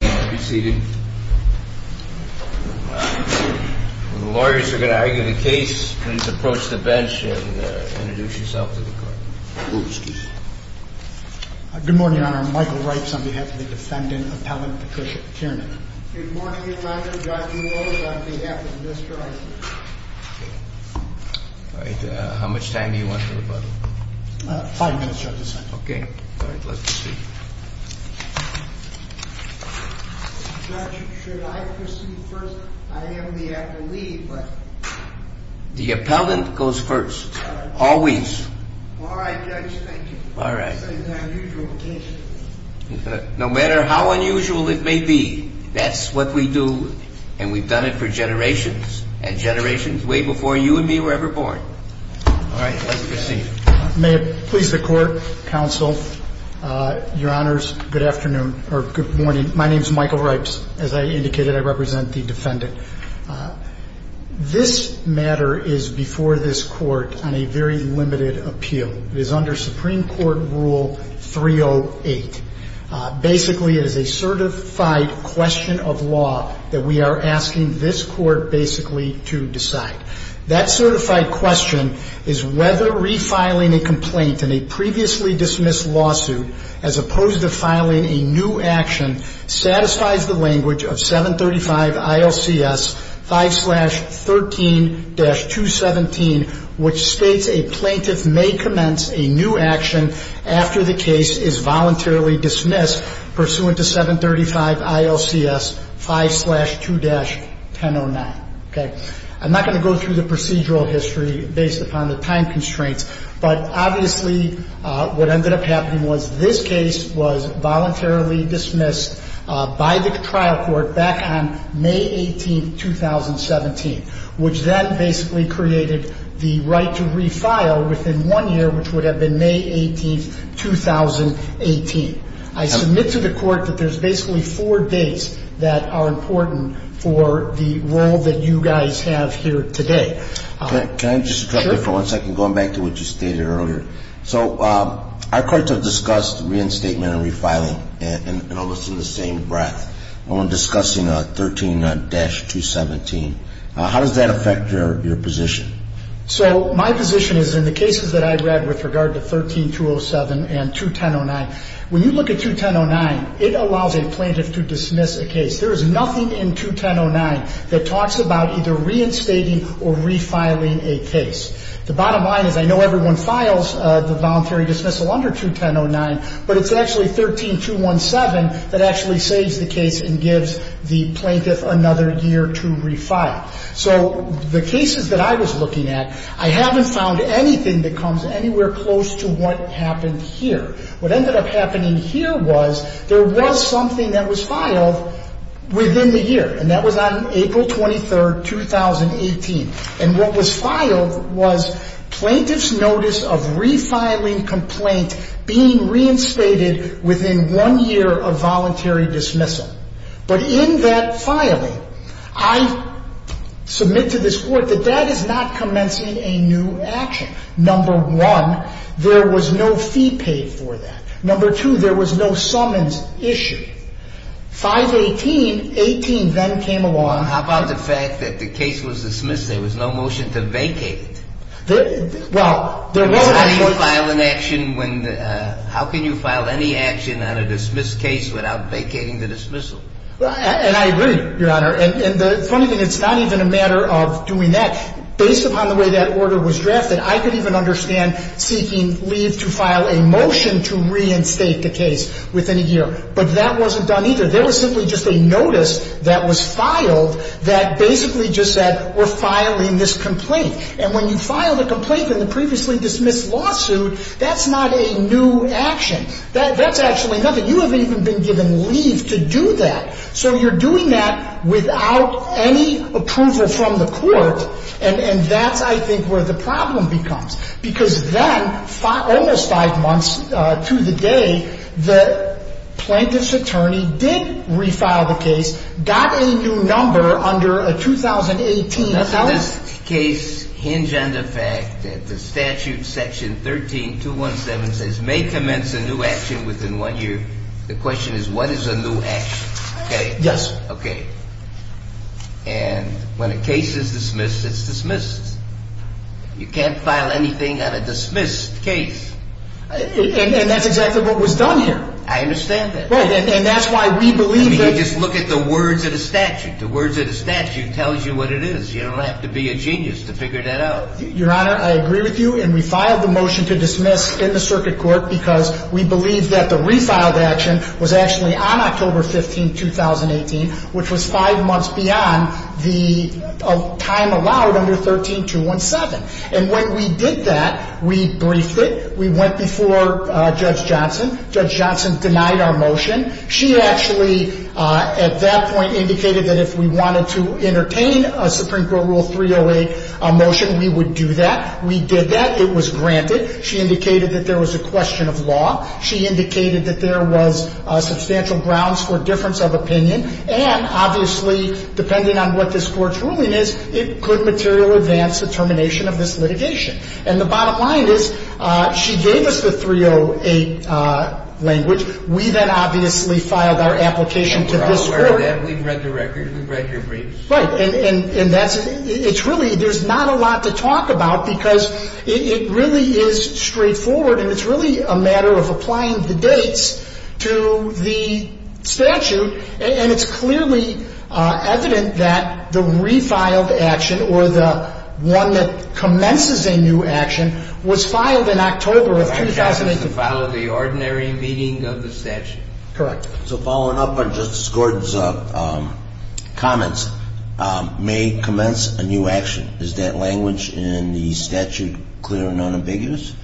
Good morning, Your Honor. I'm Michael Reitz on behalf of the defendant, Appellant Patricia Tiernan. Good morning, Your Honor. I'm John Dulo on behalf of Mr. Eisner. All right. How much time do you want for rebuttal? Five minutes, Your Honor. Okay. All right. Let's proceed. Judge, should I proceed first? I am the appellee, but... The appellant goes first, always. All right, Judge. Thank you. All right. This is an unusual occasion. No matter how unusual it may be, that's what we do, and we've done it for generations, and generations way before you and me were ever born. All right. Let's proceed. May it please the Court, Counsel, Your Honors, good afternoon, or good morning. My name is Michael Reitz. As I indicated, I represent the defendant. This matter is before this Court on a very limited appeal. It is under Supreme Court Rule 308. Basically, it is a certified question of law that we are asking this Court basically to decide. That certified question is whether refiling a complaint in a previously dismissed lawsuit, as opposed to filing a new action, satisfies the language of 735 ILCS 5-13-217, which states a plaintiff may commence a new action after the case is voluntarily dismissed pursuant to 735 ILCS 5-2-1009. Okay. I'm not going to go through the procedural history based upon the time constraints. But obviously, what ended up happening was this case was voluntarily dismissed by the trial court back on May 18, 2017, which then basically created the right to refile within one year, which would have been May 18, 2018. I submit to the Court that there's basically four dates that are important for the role that you guys have here today. Can I just interrupt you for one second, going back to what you stated earlier? So our courts have discussed reinstatement and refiling almost in the same breath. When we're discussing 13-217, how does that affect your position? So my position is in the cases that I read with regard to 13-207 and 2109. When you look at 2109, it allows a plaintiff to dismiss a case. There is nothing in 2109 that talks about either reinstating or refiling a case. The bottom line is I know everyone files the voluntary dismissal under 2109, but it's actually 13-217 that actually saves the case and gives the plaintiff another year to refile. So the cases that I was looking at, I haven't found anything that comes anywhere close to what happened here. What ended up happening here was there was something that was filed within the year, and that was on April 23, 2018. And what was filed was plaintiff's notice of refiling complaint being reinstated within one year of voluntary dismissal. But in that filing, I submit to this Court that that is not commencing a new action. Number one, there was no fee paid for that. Number two, there was no summons issued. 518, 18 then came along. How about the fact that the case was dismissed? There was no motion to vacate it. Well, there was a motion to vacate it. How do you file an action when the – how can you file any action on a dismissed case without vacating the dismissal? And I agree, Your Honor. And the funny thing, it's not even a matter of doing that. Based upon the way that order was drafted, I could even understand seeking leave to file a motion to reinstate the case within a year. But that wasn't done either. There was simply just a notice that was filed that basically just said, we're filing this complaint. And when you file a complaint in the previously dismissed lawsuit, that's not a new action. That's actually nothing. You have even been given leave to do that. So you're doing that without any approval from the court. And that's, I think, where the problem becomes. Because then, almost five months to the day, the plaintiff's attorney did refile the case, got a new number under a 2018 – The dismissed case hinge on the fact that the statute section 13-217 says, may commence a new action within one year. The question is, what is a new action? Okay? Yes, sir. Okay. And when a case is dismissed, it's dismissed. You can't file anything on a dismissed case. And that's exactly what was done here. I understand that. Right. And that's why we believe that – I mean, you just look at the words of the statute. The words of the statute tells you what it is. You don't have to be a genius to figure that out. Your Honor, I agree with you. And we filed the motion to dismiss in the circuit court because we believe that the refiled action was actually on October 15, 2018, which was five months beyond the time allowed under 13-217. And when we did that, we briefed it. We went before Judge Johnson. Judge Johnson denied our motion. She actually, at that point, indicated that if we wanted to entertain a Supreme Court Rule 308 motion, we would do that. We did that. It was granted. She indicated that there was a question of law. She indicated that there was substantial grounds for difference of opinion. And obviously, depending on what this court's ruling is, it could material advance the termination of this litigation. And the bottom line is she gave us the 308 language. We then obviously filed our application to this court. We're all aware of that. We've read the record. We've read your briefs. Right. And that's – it's really – there's not a lot to talk about because it really is straightforward. And it's really a matter of applying the dates to the statute. And it's clearly evident that the refiled action or the one that commences a new action was filed in October of 2018. So the statute is clear and unambiguous? Correct. So following up on Justice Gordon's comments, may commence a new action. Is that language in the statute clear and unambiguous?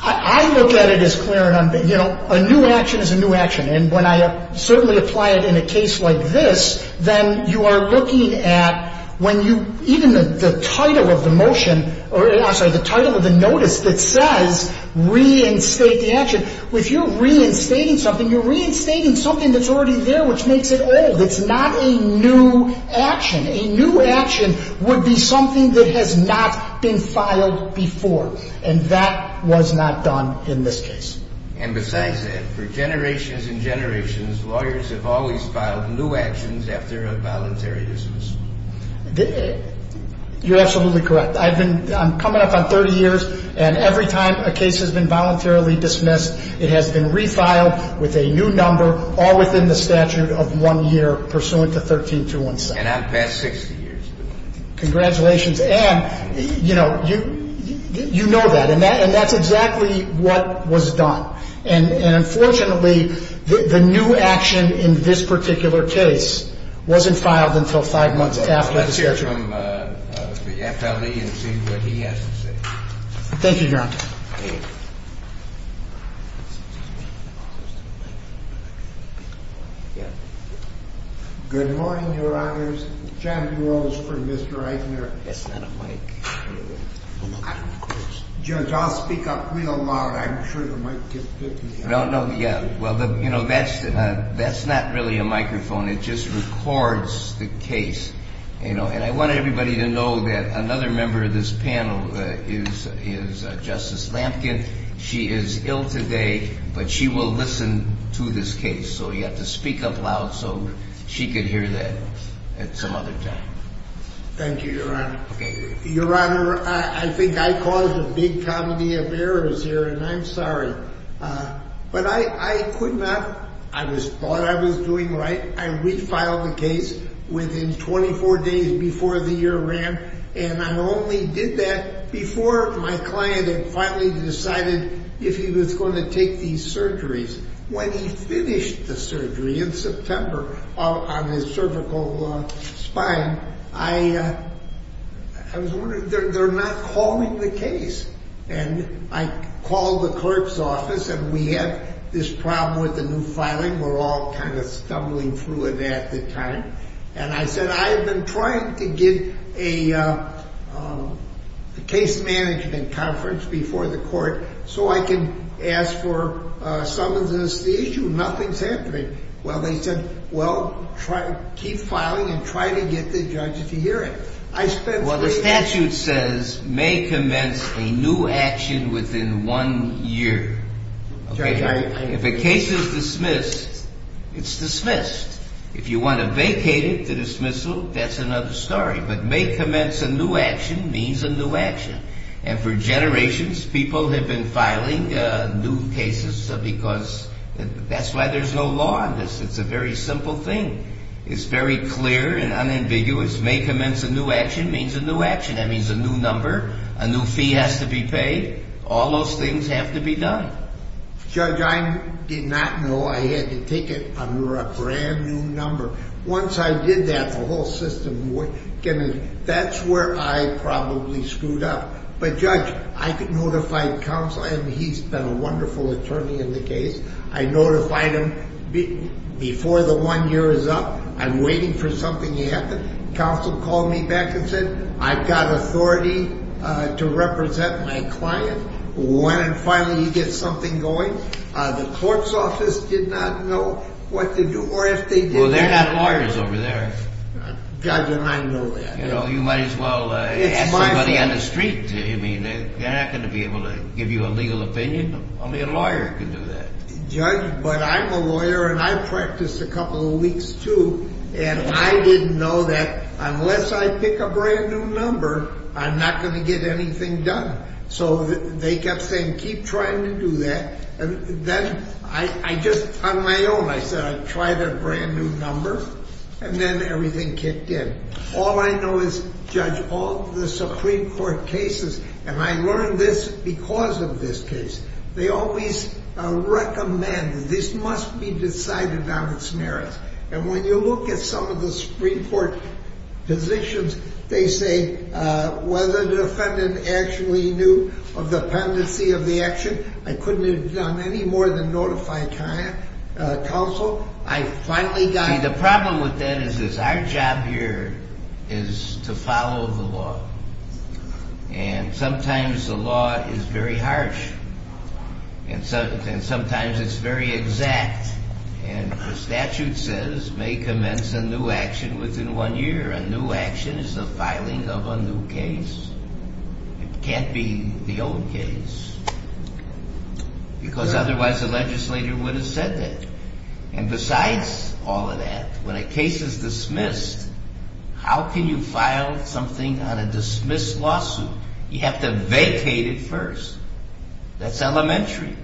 I look at it as clear and unambiguous. You know, a new action is a new action. And when I certainly apply it in a case like this, then you are looking at when you – even the title of the motion – I'm sorry, the title of the notice that says reinstate the action. If you're reinstating something, you're reinstating something that's already there which makes it old. It's not a new action. A new action would be something that has not been filed before. And that was not done in this case. And besides that, for generations and generations, lawyers have always filed new actions after a voluntary dismissal. You're absolutely correct. I've been – I'm coming up on 30 years, and every time a case has been voluntarily dismissed, it has been refiled with a new number all within the statute of one year pursuant to 13217. And I'm past 60 years. Congratulations. And, you know, you know that. And that's exactly what was done. And unfortunately, the new action in this particular case wasn't filed until five months after the statute. Let's hear from the FLE and see what he has to say. Thank you, Your Honor. Thank you. Good morning, Your Honors. John DeRose for Mr. Eisner. That's not a mic. Judge, I'll speak up real loud. I'm sure you might get picked. No, no, yeah. Well, you know, that's not really a microphone. It just records the case, you know. And I want everybody to know that another member of this panel is Justice Lampkin. She is ill today, but she will listen to this case. So you have to speak up loud so she can hear that at some other time. Thank you, Your Honor. Your Honor, I think I caused a big comedy of errors here, and I'm sorry. But I could not. I thought I was doing right. I refiled the case within 24 days before the year ran. And I only did that before my client had finally decided if he was going to take these surgeries. When he finished the surgery in September on his cervical spine, I was wondering. They're not calling the case. And I called the clerk's office, and we had this problem with the new filing. We're all kind of stumbling through it at the time. And I said, I've been trying to get a case management conference before the court so I can ask for some of this issue. Nothing's happening. Well, they said, well, keep filing and try to get the judge to hear it. Well, the statute says may commence a new action within one year. If a case is dismissed, it's dismissed. If you want to vacate it to dismissal, that's another story. But may commence a new action means a new action. And for generations, people have been filing new cases because that's why there's no law on this. It's a very simple thing. It's very clear and unambiguous. May commence a new action means a new action. That means a new number, a new fee has to be paid. All those things have to be done. Judge, I did not know I had to take it under a brand-new number. Once I did that, the whole system, that's where I probably screwed up. But, Judge, I notified counsel, and he's been a wonderful attorney in the case. I notified him. Before the one year is up, I'm waiting for something to happen. Counsel called me back and said, I've got authority to represent my client. When finally you get something going, the court's office did not know what to do or if they did. Well, they're not lawyers over there. Judge, and I know that. You know, you might as well ask somebody on the street. I mean, they're not going to be able to give you a legal opinion. Only a lawyer can do that. Judge, but I'm a lawyer, and I practiced a couple of weeks too, and I didn't know that unless I pick a brand-new number, I'm not going to get anything done. So they kept saying, keep trying to do that. And then I just, on my own, I said I'd try their brand-new number, and then everything kicked in. All I know is, Judge, all the Supreme Court cases, and I learned this because of this case, they always recommend that this must be decided on its merits. And when you look at some of the Supreme Court positions, they say whether the defendant actually knew of the pendency of the action, I couldn't have done any more than notify counsel. See, the problem with that is our job here is to follow the law. And sometimes the law is very harsh, and sometimes it's very exact. And the statute says, may commence a new action within one year. A new action is the filing of a new case. It can't be the old case, because otherwise the legislator would have said that. And besides all of that, when a case is dismissed, how can you file something on a dismissed lawsuit? You have to vacate it first. That's elementary.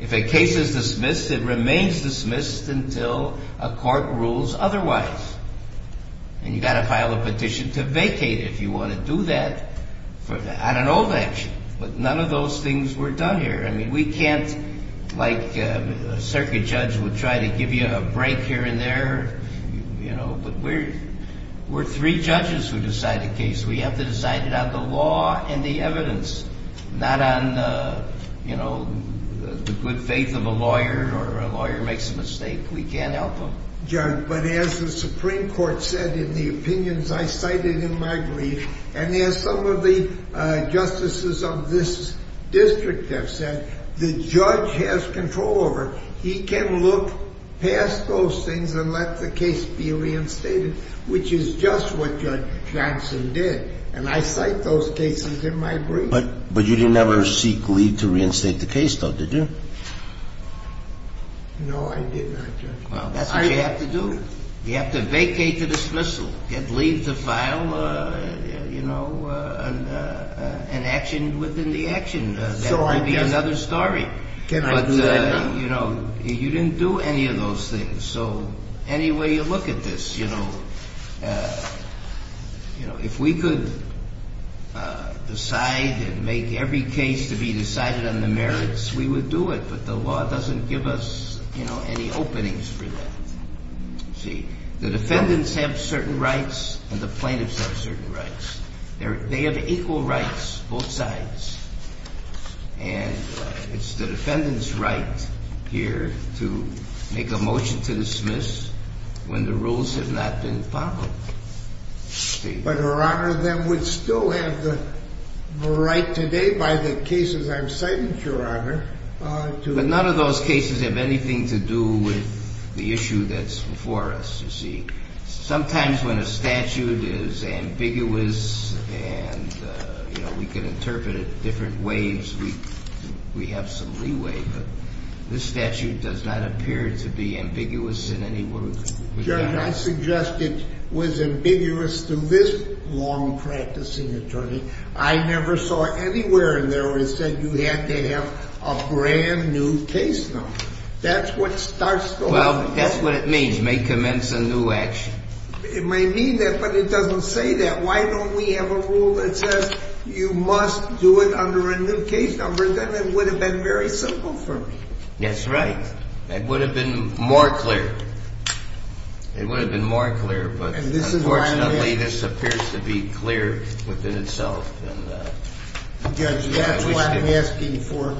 If a case is dismissed, it remains dismissed until a court rules otherwise. And you've got to file a petition to vacate it if you want to do that on an old action. But none of those things were done here. I mean, we can't, like a circuit judge would try to give you a break here and there, you know, but we're three judges who decide a case. We have to decide it on the law and the evidence, not on, you know, the good faith of a lawyer or a lawyer makes a mistake. We can't help them. But as the Supreme Court said in the opinions I cited in my brief, and as some of the justices of this district have said, the judge has control over it. He can look past those things and let the case be reinstated, which is just what Judge Johnson did. And I cite those cases in my brief. But you didn't ever seek leave to reinstate the case, though, did you? No, I did not, Judge. Well, that's what you have to do. You have to vacate the dismissal, leave the file, you know, and action within the action. That would be another story. But, you know, you didn't do any of those things. So any way you look at this, you know, if we could decide and make every case to be decided on the merits, we would do it, but the law doesn't give us, you know, any openings for that. You see, the defendants have certain rights and the plaintiffs have certain rights. They have equal rights, both sides. And it's the defendant's right here to make a motion to dismiss when the rules have not been followed. But, Your Honor, then we'd still have the right today by the cases I've cited, Your Honor. But none of those cases have anything to do with the issue that's before us, you see. Sometimes when a statute is ambiguous and, you know, we can interpret it different ways, we have some leeway. But this statute does not appear to be ambiguous in any way. Your Honor, I suggest it was ambiguous through this long practicing attorney. I never saw anywhere in there where it said you had to have a brand-new case number. That's what starts the whole thing. Well, that's what it means, may commence a new action. It may mean that, but it doesn't say that. Why don't we have a rule that says you must do it under a new case number? Then it would have been very simple for me. That's right. It would have been more clear. It would have been more clear, but unfortunately this appears to be clear within itself. Judge, that's why I'm asking for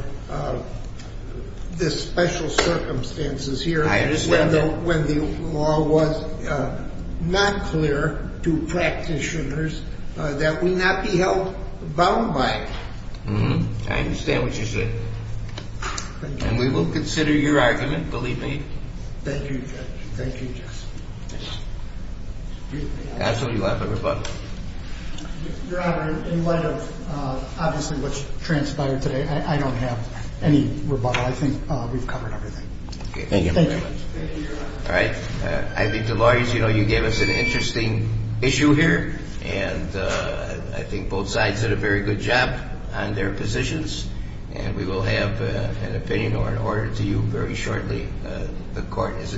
the special circumstances here. I understand that. When the law was not clear to practitioners, that we not be held bound by it. I understand what you're saying. And we will consider your argument, believe me. Thank you, Judge. Thank you, Judge. Absolutely love the rebuttal. Your Honor, in light of obviously what transpired today, I don't have any rebuttal. I think we've covered everything. Thank you very much. Thank you, Your Honor. All right. I think the lawyers, you know, you gave us an interesting issue here. And I think both sides did a very good job on their positions. And we will have an opinion or an order to you very shortly. The Court is adjourned.